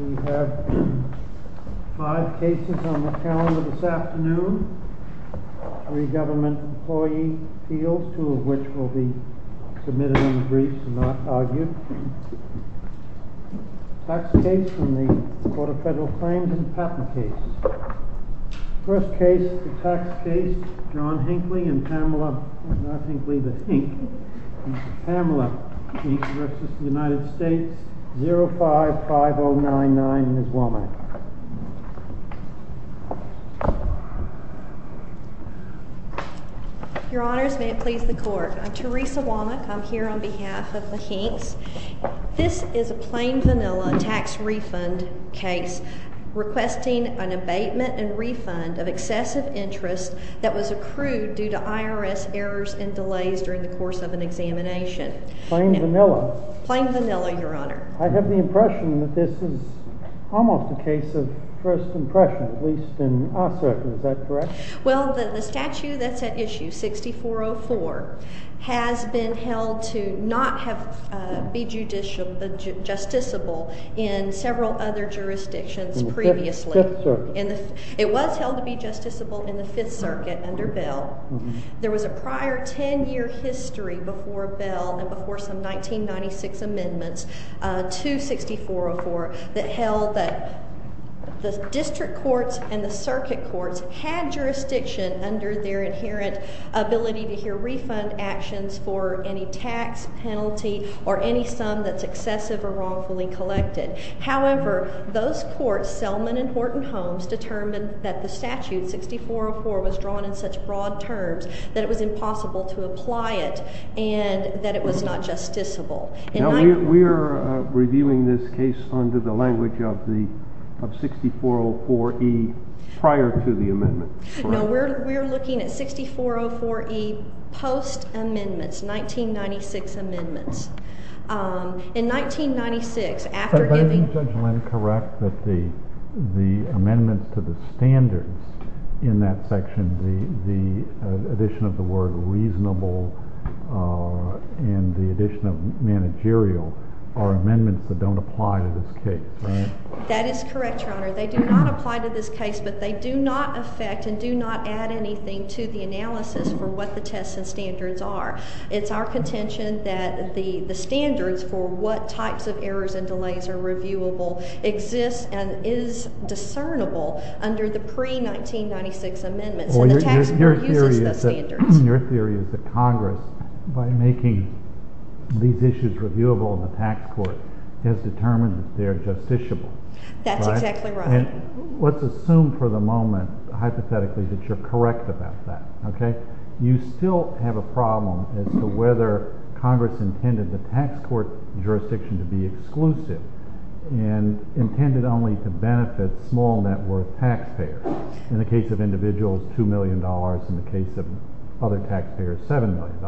We have five cases on the calendar this afternoon. Three government employee appeals, two of which will be submitted in the briefs and not argued. Tax case from the Court of Federal Claims and Patent case. First case, the tax case, John Hinckley and Pamela, not Hinckley, but Hinck, Pamela, Hinck v. United States, 05-5099, Ms. Womack. Your Honors, may it please the Court. I'm Teresa Womack. I'm here on behalf of the Hincks. This is a plain vanilla tax refund case requesting an abatement and refund of excessive interest that was accrued due to IRS errors and delays during the course of an examination. Plain vanilla? Plain vanilla, Your Honor. I have the impression that this is almost a case of first impression, at least in our circuit. Is that correct? Well, the statute that's at issue, 6404, has been held to not be justiciable in several other jurisdictions previously. In the Fifth Circuit? It was held to be justiciable in the Fifth Circuit under Bell. There was a prior ten-year history before Bell and before some 1996 amendments to 6404 that held that the district courts and the circuit courts had jurisdiction under their inherent ability to hear refund actions for any tax penalty or any sum that's excessive or wrongfully collected. However, those courts, Selman and Horton Homes, determined that the statute 6404 was drawn in such broad terms that it was impossible to apply it and that it was not justiciable. Now, we're reviewing this case under the language of 6404E prior to the amendment. No, we're looking at 6404E post-amendments, 1996 amendments. In 1996, after giving— But isn't Judge Lynn correct that the amendment to the standards in that section, the addition of the word reasonable and the addition of managerial, are amendments that don't apply to this case, right? That is correct, Your Honor. They do not apply to this case, but they do not affect and do not add anything to the analysis for what the tests and standards are. It's our contention that the standards for what types of errors and delays are reviewable exist and is discernible under the pre-1996 amendments, and the tax court uses those standards. Your theory is that Congress, by making these issues reviewable in the tax court, has determined that they're justiciable. That's exactly right. And let's assume for the moment, hypothetically, that you're correct about that, okay? You still have a problem as to whether Congress intended the tax court jurisdiction to be exclusive and intended only to benefit small net worth taxpayers. In the case of individuals, $2 million. In the case of other taxpayers, $7 million.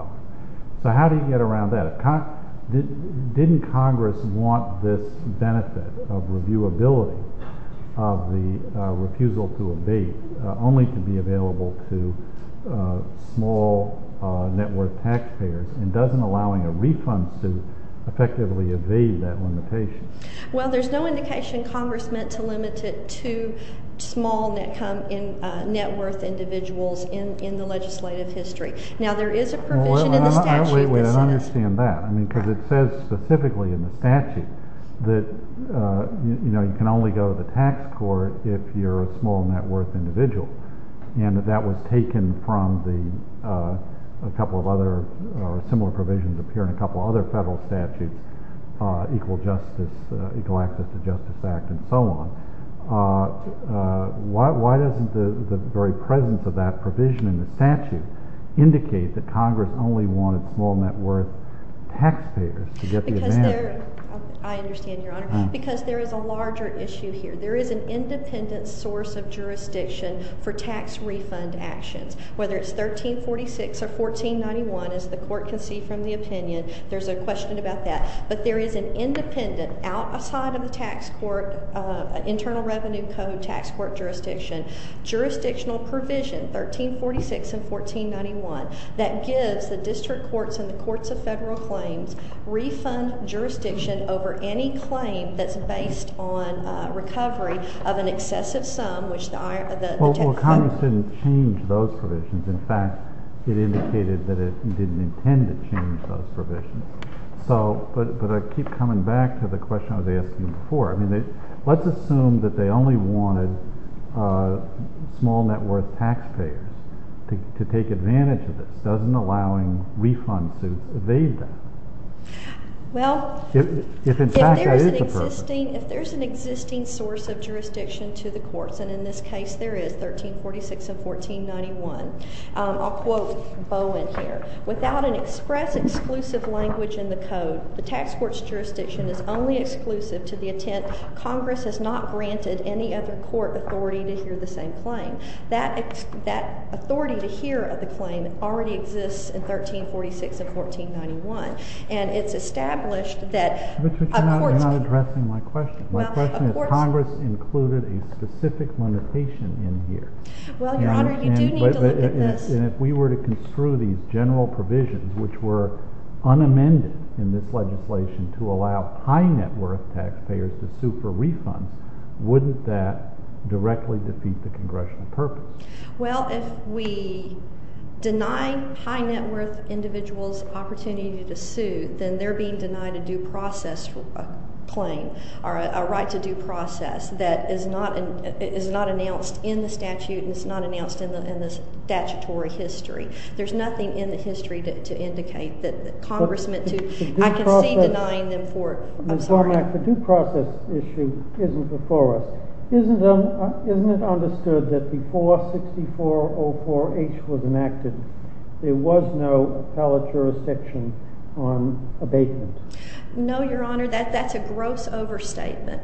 So how do you get around that? Didn't Congress want this benefit of reviewability of the refusal to abate only to be available to small net worth taxpayers and doesn't allowing a refund suit effectively evade that limitation? Well, there's no indication Congress meant to limit it to small net worth individuals in the legislative history. Now, there is a provision in the statute. I don't understand that. I mean, because it says specifically in the statute that, you know, you can only go to the tax court if you're a small net worth individual. And that was taken from a couple of other similar provisions appearing in a couple of other federal statutes, Equal Access to Justice Act and so on. Why doesn't the very presence of that provision in the statute indicate that Congress only wanted small net worth taxpayers to get the advantage? I understand, Your Honor, because there is a larger issue here. There is an independent source of jurisdiction for tax refund actions. Whether it's 1346 or 1491, as the court can see from the opinion, there's a question about that. But there is an independent, outside of the tax court, internal revenue code tax court jurisdiction, jurisdictional provision, 1346 and 1491, that gives the district courts and the courts of federal claims refund jurisdiction over any claim that's based on recovery of an excessive sum which the tax court— Well, Congress didn't change those provisions. In fact, it indicated that it didn't intend to change those provisions. But I keep coming back to the question I was asking before. Let's assume that they only wanted small net worth taxpayers to take advantage of this, doesn't allowing refunds evade that. Well, if there's an existing source of jurisdiction to the courts, and in this case there is, 1346 and 1491, I'll quote Bowen here. Without an express exclusive language in the code, the tax court's jurisdiction is only exclusive to the intent Congress has not granted any other court authority to hear the same claim. That authority to hear the claim already exists in 1346 and 1491. And it's established that a court's— But you're not addressing my question. My question is Congress included a specific limitation in here. Well, Your Honor, you do need to look at this. And if we were to construe these general provisions which were unamended in this legislation to allow high net worth taxpayers to sue for refunds, wouldn't that directly defeat the Congressional purpose? Well, if we deny high net worth individuals opportunity to sue, then they're being denied a due process claim or a right to due process that is not announced in the statute and is not announced in the statutory history. There's nothing in the history to indicate that the congressman to— But the due process— I can see denying them for—I'm sorry. Ms. Barnack, the due process issue isn't before us. Isn't it understood that before 6404H was enacted, there was no appellate jurisdiction on abatement? No, Your Honor. That's a gross overstatement.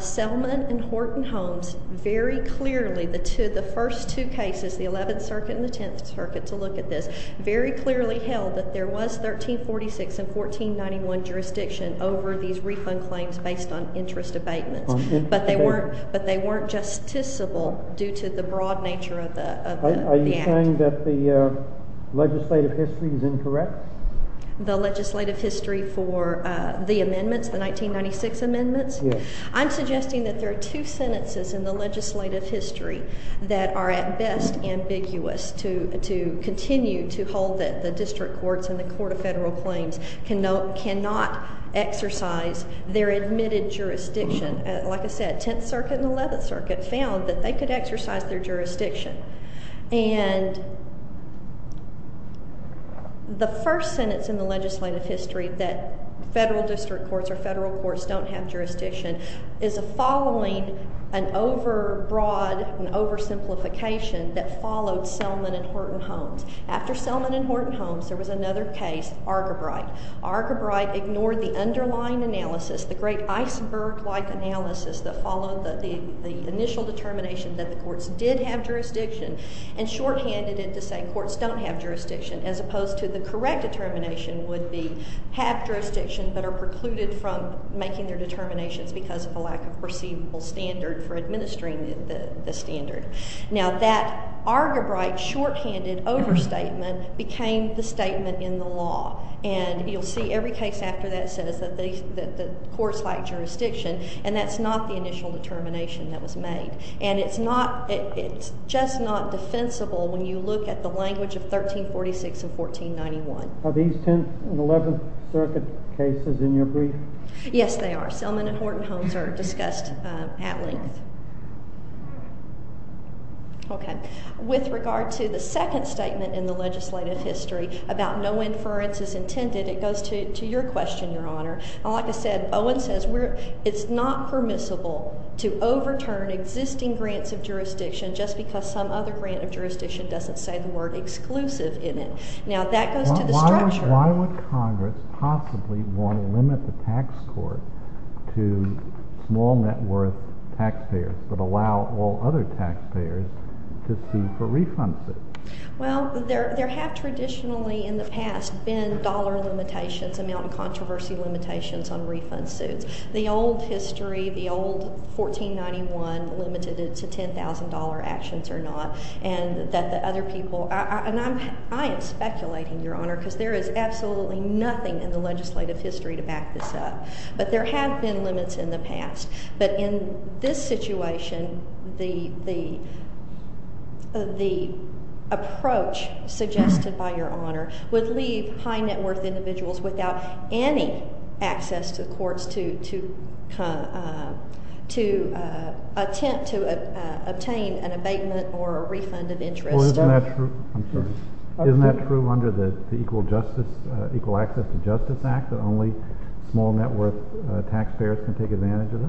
Selman and Horton Holmes very clearly, the first two cases, the 11th Circuit and the 10th Circuit, to look at this, very clearly held that there was 1346 and 1491 jurisdiction over these refund claims based on interest abatement. But they weren't justiciable due to the broad nature of the act. Are you saying that the legislative history is incorrect? The legislative history for the amendments, the 1996 amendments? Yes. I'm suggesting that there are two sentences in the legislative history that are at best ambiguous to continue to hold that the district courts and the court of federal claims cannot exercise their admitted jurisdiction. Like I said, 10th Circuit and 11th Circuit found that they could exercise their jurisdiction. And the first sentence in the legislative history that federal district courts or federal courts don't have jurisdiction is a following, an overbroad, an oversimplification that followed Selman and Horton Holmes. After Selman and Horton Holmes, there was another case, Argebright. Argebright ignored the underlying analysis, the great iceberg-like analysis that followed the initial determination that the courts did have jurisdiction and shorthanded it to say courts don't have jurisdiction, as opposed to the correct determination would be have jurisdiction but are precluded from making their determinations because of a lack of perceivable standard for administering the standard. Now, that Argebright shorthanded overstatement became the statement in the law. And you'll see every case after that says that the courts lack jurisdiction, and that's not the initial determination that was made. And it's just not defensible when you look at the language of 1346 and 1491. Are these 10th and 11th Circuit cases in your brief? Yes, they are. Selman and Horton Holmes are discussed at length. Okay. With regard to the second statement in the legislative history about no inference is intended, it goes to your question, Your Honor. Like I said, Owen says it's not permissible to overturn existing grants of jurisdiction just because some other grant of jurisdiction doesn't say the word exclusive in it. Now, that goes to the structure. Why would Congress possibly want to limit the tax court to small net worth taxpayers but allow all other taxpayers to sue for refund suits? Well, there have traditionally in the past been dollar limitations, amount of controversy limitations on refund suits. The old history, the old 1491 limited it to $10,000 actions or not, and that the other people— I am speculating, Your Honor, because there is absolutely nothing in the legislative history to back this up. But there have been limits in the past. But in this situation, the approach suggested by Your Honor would leave high net worth individuals without any access to courts to attempt to obtain an abatement or a refund of interest. Well, isn't that true—I'm sorry. Isn't that true under the Equal Access to Justice Act that only small net worth taxpayers can take advantage of it?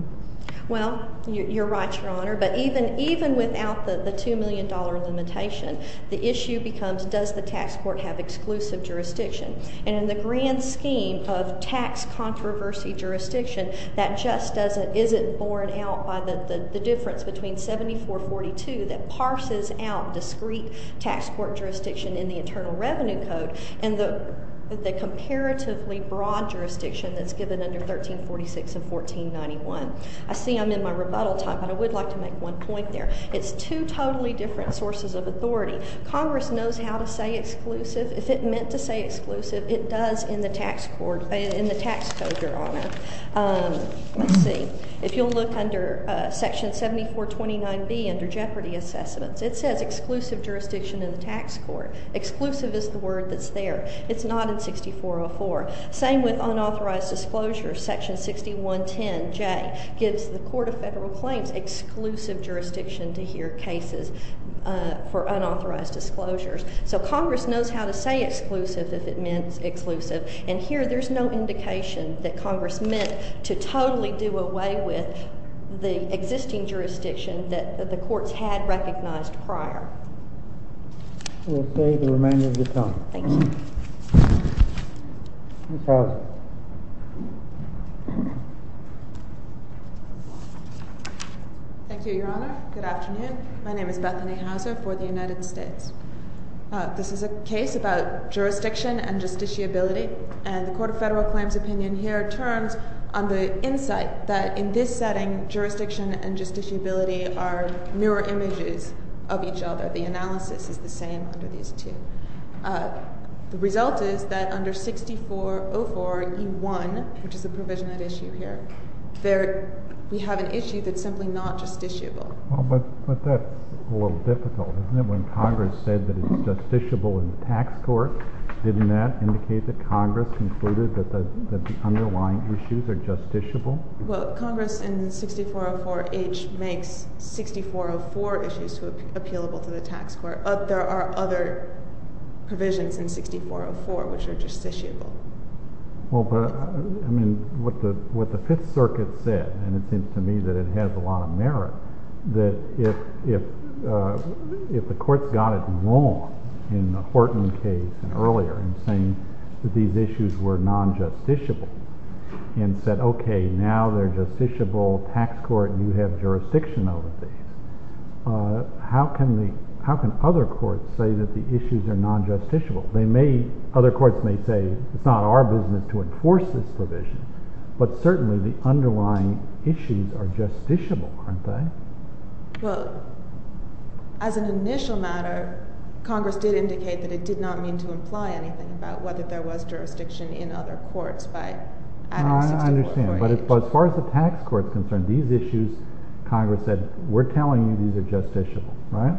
Well, you're right, Your Honor. But even without the $2 million limitation, the issue becomes does the tax court have exclusive jurisdiction. And in the grand scheme of tax controversy jurisdiction, that just isn't borne out by the difference between 7442 that parses out discrete tax court jurisdiction in the Internal Revenue Code and the comparatively broad jurisdiction that's given under 1346 and 1491. I see I'm in my rebuttal time, but I would like to make one point there. It's two totally different sources of authority. Congress knows how to say exclusive. If it meant to say exclusive, it does in the tax code, Your Honor. Let's see. If you'll look under Section 7429B under Jeopardy Assessments, it says exclusive jurisdiction in the tax court. Exclusive is the word that's there. It's not in 6404. Same with unauthorized disclosures. Section 6110J gives the Court of Federal Claims exclusive jurisdiction to hear cases for unauthorized disclosures. So Congress knows how to say exclusive if it means exclusive. And here there's no indication that Congress meant to totally do away with the existing jurisdiction that the courts had recognized prior. We'll pay the remainder of your time. Thank you. Ms. Houser. Thank you, Your Honor. Good afternoon. My name is Bethany Houser for the United States. This is a case about jurisdiction and justiciability, and the Court of Federal Claims opinion here turns on the insight that in this setting, jurisdiction and justiciability are mirror images of each other. The analysis is the same under these two. The result is that under 6404E1, which is the provision at issue here, we have an issue that's simply not justiciable. Well, but that's a little difficult, isn't it? When Congress said that it's justiciable in the tax court, didn't that indicate that Congress concluded that the underlying issues are justiciable? Well, Congress in 6404H makes 6404 issues appealable to the tax court. There are other provisions in 6404 which are justiciable. Well, but, I mean, what the Fifth Circuit said, and it seems to me that it has a lot of merit, that if the courts got it wrong in the Horton case earlier in saying that these issues were non-justiciable and said, okay, now they're justiciable, tax court, you have jurisdiction over these, how can other courts say that the issues are non-justiciable? Other courts may say, it's not our business to enforce this provision, but certainly the underlying issues are justiciable, aren't they? Well, as an initial matter, Congress did indicate that it did not mean to imply anything about whether there was jurisdiction in other courts by adding 6404. I understand, but as far as the tax court is concerned, these issues, Congress said, we're telling you these are justiciable, right?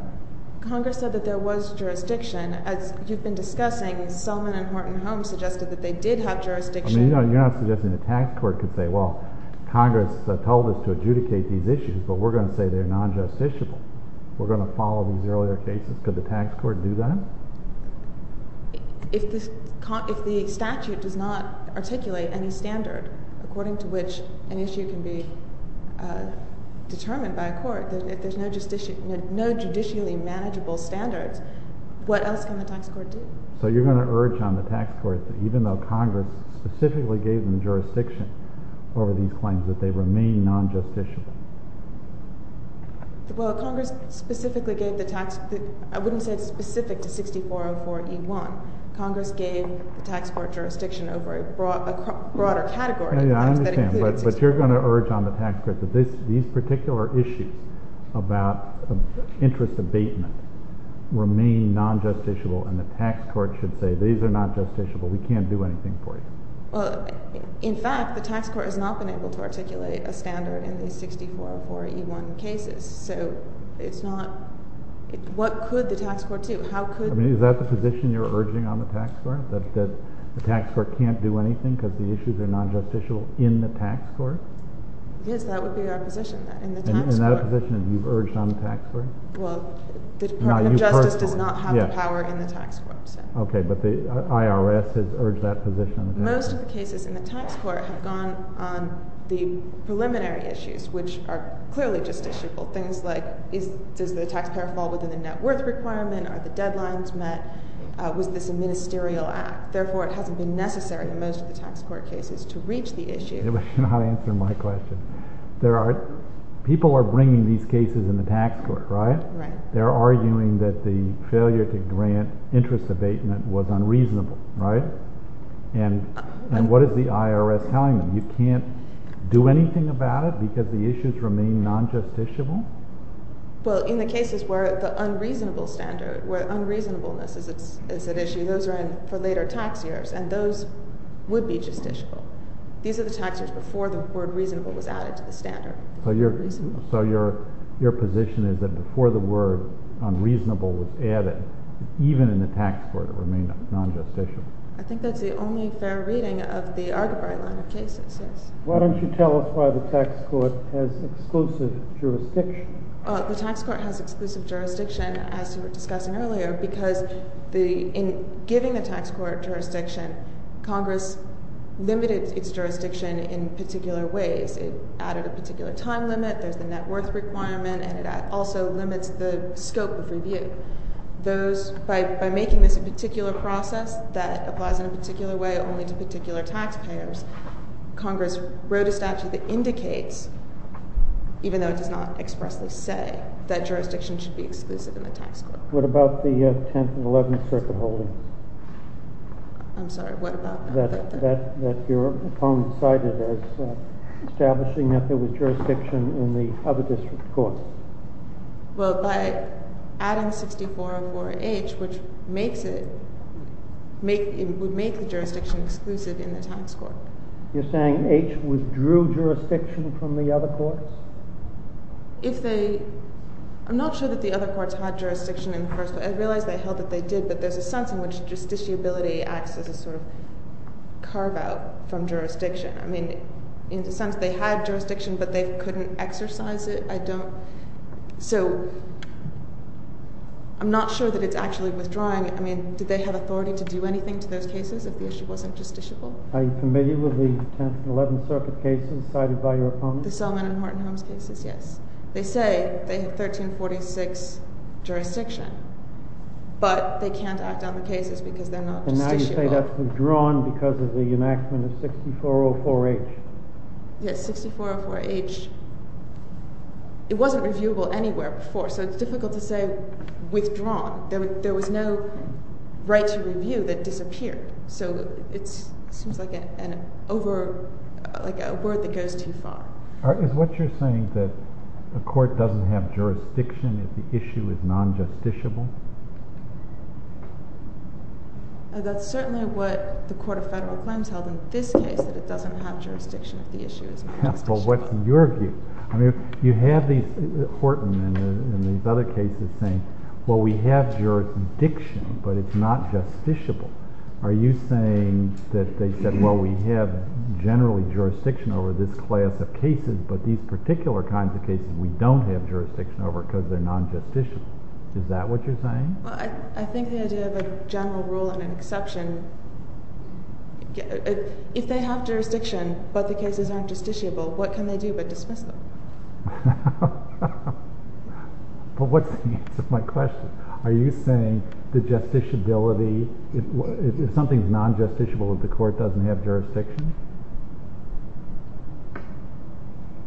Congress said that there was jurisdiction. As you've been discussing, Selman and Horton Holmes suggested that they did have jurisdiction. I mean, you're not suggesting the tax court could say, well, Congress told us to adjudicate these issues, but we're going to say they're non-justiciable. We're going to follow these earlier cases. Could the tax court do that? If the statute does not articulate any standard according to which an issue can be determined by a court, if there's no judicially manageable standards, what else can the tax court do? So you're going to urge on the tax court that even though Congress specifically gave them jurisdiction over these claims, that they remain non-justiciable. Well, Congress specifically gave the tax—I wouldn't say it's specific to 6404E1. Congress gave the tax court jurisdiction over a broader category of claims that included 6404E1. I understand, but you're going to urge on the tax court that these particular issues about interest abatement remain non-justiciable, and the tax court should say, these are not justiciable, we can't do anything for you. Well, in fact, the tax court has not been able to articulate a standard in the 6404E1 cases, so it's not—what could the tax court do? How could— I mean, is that the position you're urging on the tax court, that the tax court can't do anything because the issues are non-justiciable in the tax court? Yes, that would be our position, in the tax court. And that position you've urged on the tax court? Well, the Department of Justice does not have the power in the tax court. Most of the cases in the tax court have gone on the preliminary issues, which are clearly justiciable, things like, does the taxpayer fall within the net worth requirement, are the deadlines met, was this a ministerial act? Therefore, it hasn't been necessary in most of the tax court cases to reach the issue. You're not answering my question. There are—people are bringing these cases in the tax court, right? Right. They're arguing that the failure to grant interest abatement was unreasonable, right? And what is the IRS telling them? You can't do anything about it because the issues remain non-justiciable? Well, in the cases where the unreasonable standard, where unreasonableness is at issue, those are in for later tax years, and those would be justiciable. These are the tax years before the word reasonable was added to the standard. So your position is that before the word unreasonable was added, even in the tax court, it remained non-justiciable? I think that's the only fair reading of the Argybri line of cases, yes. Why don't you tell us why the tax court has exclusive jurisdiction? The tax court has exclusive jurisdiction, as you were discussing earlier, because in giving the tax court jurisdiction, Congress limited its jurisdiction in particular ways. It added a particular time limit. There's the net worth requirement, and it also limits the scope of review. By making this a particular process that applies in a particular way only to particular taxpayers, Congress wrote a statute that indicates, even though it does not expressly say, that jurisdiction should be exclusive in the tax court. What about the 10th and 11th Circuit holdings? I'm sorry, what about that? That your opponent cited as establishing that there was jurisdiction in the other district courts. Well, by adding 6404H, which would make the jurisdiction exclusive in the tax court. You're saying H withdrew jurisdiction from the other courts? I'm not sure that the other courts had jurisdiction in the first place. I realize they held that they did, but there's a sense in which justiciability acts as a sort of carve-out from jurisdiction. I mean, in the sense they had jurisdiction, but they couldn't exercise it. So, I'm not sure that it's actually withdrawing. I mean, did they have authority to do anything to those cases if the issue wasn't justiciable? Are you familiar with the 10th and 11th Circuit cases cited by your opponent? The Selman and Horton Holmes cases, yes. They say they have 1346 jurisdiction, but they can't act on the cases because they're not justiciable. And now you say that's withdrawn because of the enactment of 6404H. Yes, 6404H. It wasn't reviewable anywhere before, so it's difficult to say withdrawn. There was no right to review that disappeared, so it seems like a word that goes too far. Is what you're saying that the court doesn't have jurisdiction if the issue is non-justiciable? That's certainly what the Court of Federal Claims held in this case, that it doesn't have jurisdiction if the issue is non-justiciable. Well, what's your view? I mean, you have Horton and these other cases saying, well, we have jurisdiction, but it's not justiciable. Are you saying that they said, well, we have generally jurisdiction over this class of cases, but these particular kinds of cases we don't have jurisdiction over because they're non-justiciable? Is that what you're saying? Well, I think the idea of a general rule and an exception, if they have jurisdiction but the cases aren't justiciable, what can they do but dismiss them? Well, what's the answer to my question? Are you saying the justiciability, if something's non-justiciable, the court doesn't have jurisdiction?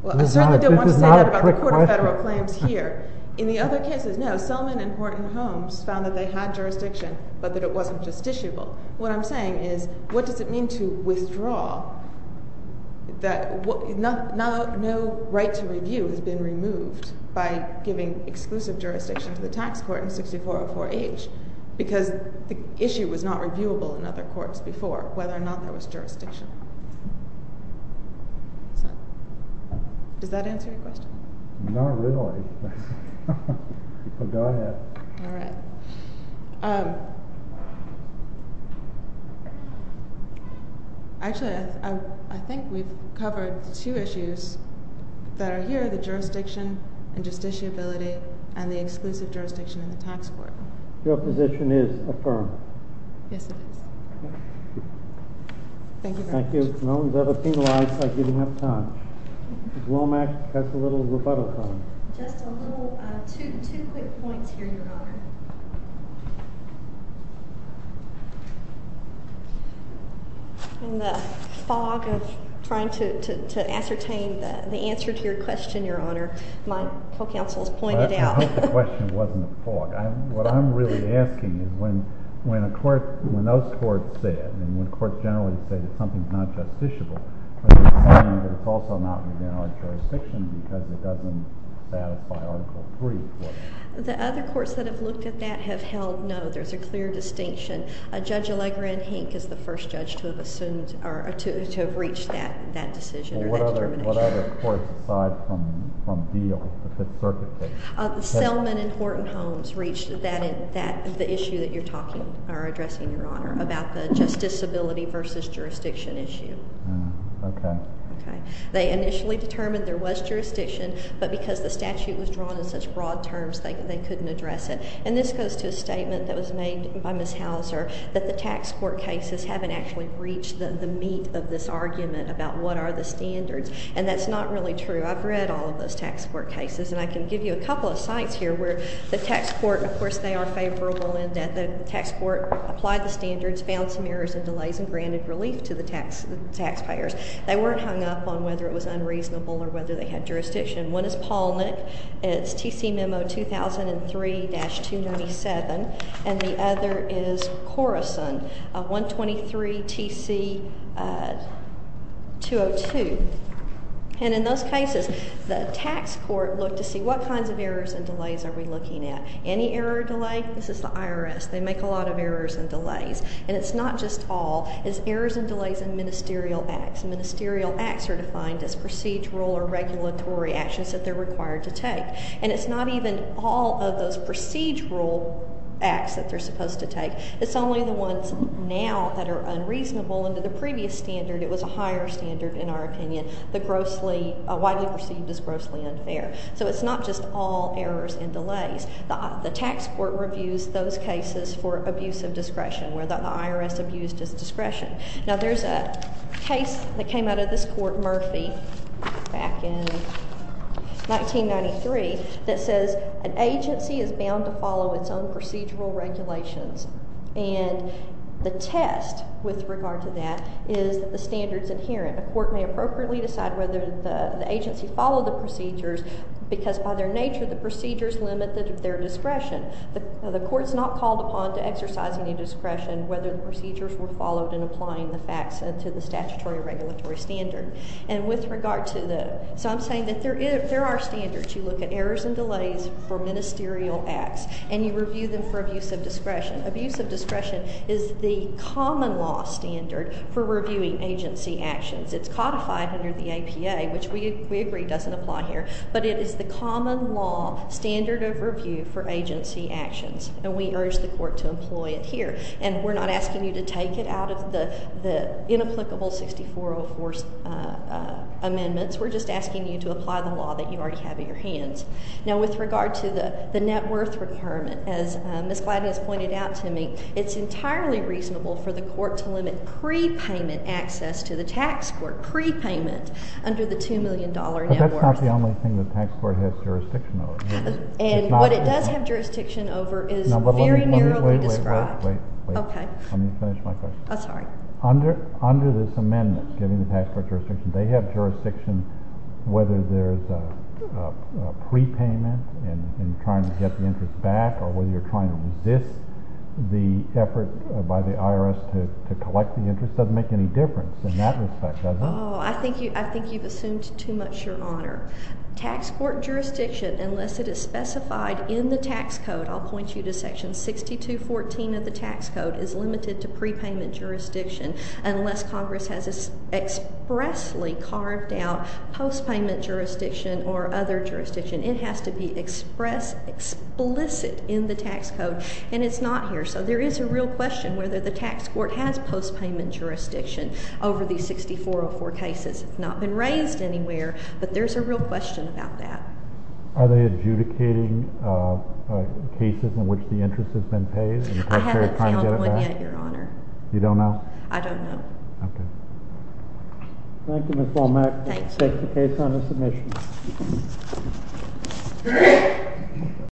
Well, I certainly don't want to say that about the Court of Federal Claims here. In the other cases, no, Selman and Horton Holmes found that they had jurisdiction, but that it wasn't justiciable. What I'm saying is, what does it mean to withdraw that no right to review has been removed by giving exclusive jurisdiction to the tax court in 6404H because the issue was not reviewable in other courts before, whether or not there was jurisdiction. Does that answer your question? Not really. Go ahead. All right. Actually, I think we've covered two issues that are here, the jurisdiction and justiciability and the exclusive jurisdiction in the tax court. Your position is affirmed. Yes, it is. Thank you very much. Thank you. As long as they're penalized, I didn't have time. Ms. Womack has a little rebuttal time. Just a little, two quick points here, Your Honor. In the fog of trying to ascertain the answer to your question, Your Honor, my co-counsel has pointed out. I hope the question wasn't a fog. What I'm really asking is when those courts said, and when courts generally say that something's not justiciable, are you saying that it's also not within our jurisdiction because it doesn't satisfy Article III? The other courts that have looked at that have held no, there's a clear distinction. Judge Allegra and Hink is the first judge to have reached that decision or that determination. What other courts, aside from Diehl, the Fifth Circuit case? Selman and Horton Homes reached the issue that you're addressing, Your Honor, about the justiciability versus jurisdiction issue. Okay. They initially determined there was jurisdiction, but because the statute was drawn in such broad terms, they couldn't address it. And this goes to a statement that was made by Ms. Hauser that the tax court cases haven't actually reached the meat of this argument about what are the standards. And that's not really true. I've read all of those tax court cases, and I can give you a couple of sites here where the tax court, of course, they are favorable in that the tax court applied the standards, found some errors and delays, and granted relief to the taxpayers. They weren't hung up on whether it was unreasonable or whether they had jurisdiction. One is Polnick. It's TC Memo 2003-297. And the other is Corison, 123 TC 202. And in those cases, the tax court looked to see what kinds of errors and delays are we looking at. Any error or delay? This is the IRS. They make a lot of errors and delays. And it's not just all. It's errors and delays in ministerial acts. Ministerial acts are defined as procedural or regulatory actions that they're required to take. And it's not even all of those procedural acts that they're supposed to take. It's only the ones now that are unreasonable. Under the previous standard, it was a higher standard, in our opinion, widely perceived as grossly unfair. So it's not just all errors and delays. The tax court reviews those cases for abuse of discretion, where the IRS abused its discretion. Now, there's a case that came out of this court, Murphy, back in 1993, that says an agency is bound to follow its own procedural regulations. And the test with regard to that is that the standard's inherent. A court may appropriately decide whether the agency followed the procedures because, by their nature, the procedures limit their discretion. The court's not called upon to exercise any discretion whether the procedures were followed in applying the facts to the statutory or regulatory standard. And with regard to the—so I'm saying that there are standards. You look at errors and delays for ministerial acts, and you review them for abuse of discretion. Abuse of discretion is the common law standard for reviewing agency actions. It's codified under the APA, which we agree doesn't apply here. But it is the common law standard of review for agency actions, and we urge the court to employ it here. And we're not asking you to take it out of the inapplicable 6404 amendments. We're just asking you to apply the law that you already have at your hands. Now, with regard to the net worth requirement, as Ms. Gladden has pointed out to me, it's entirely reasonable for the court to limit prepayment access to the tax court, prepayment under the $2 million net worth. But that's not the only thing the tax court has jurisdiction over. And what it does have jurisdiction over is very narrowly described. Wait, wait, wait. Okay. Let me finish my question. I'm sorry. Under this amendment, given the tax court jurisdiction, they have jurisdiction whether there's a prepayment and trying to get the interest back or whether you're trying to resist the effort by the IRS to collect the interest. It doesn't make any difference in that respect, does it? Oh, I think you've assumed too much, Your Honor. Tax court jurisdiction, unless it is specified in the tax code, I'll point you to Section 6214 of the tax code, is limited to prepayment jurisdiction unless Congress has expressly carved out postpayment jurisdiction or other jurisdiction. It has to be expressed explicit in the tax code, and it's not here. So there is a real question whether the tax court has postpayment jurisdiction over these 6404 cases. It's not been raised anywhere, but there's a real question about that. Are they adjudicating cases in which the interest has been paid? I haven't found one yet, Your Honor. You don't know? I don't know. Okay. Thank you, Ms. Womack. Thank you. I'll take the case on the submission.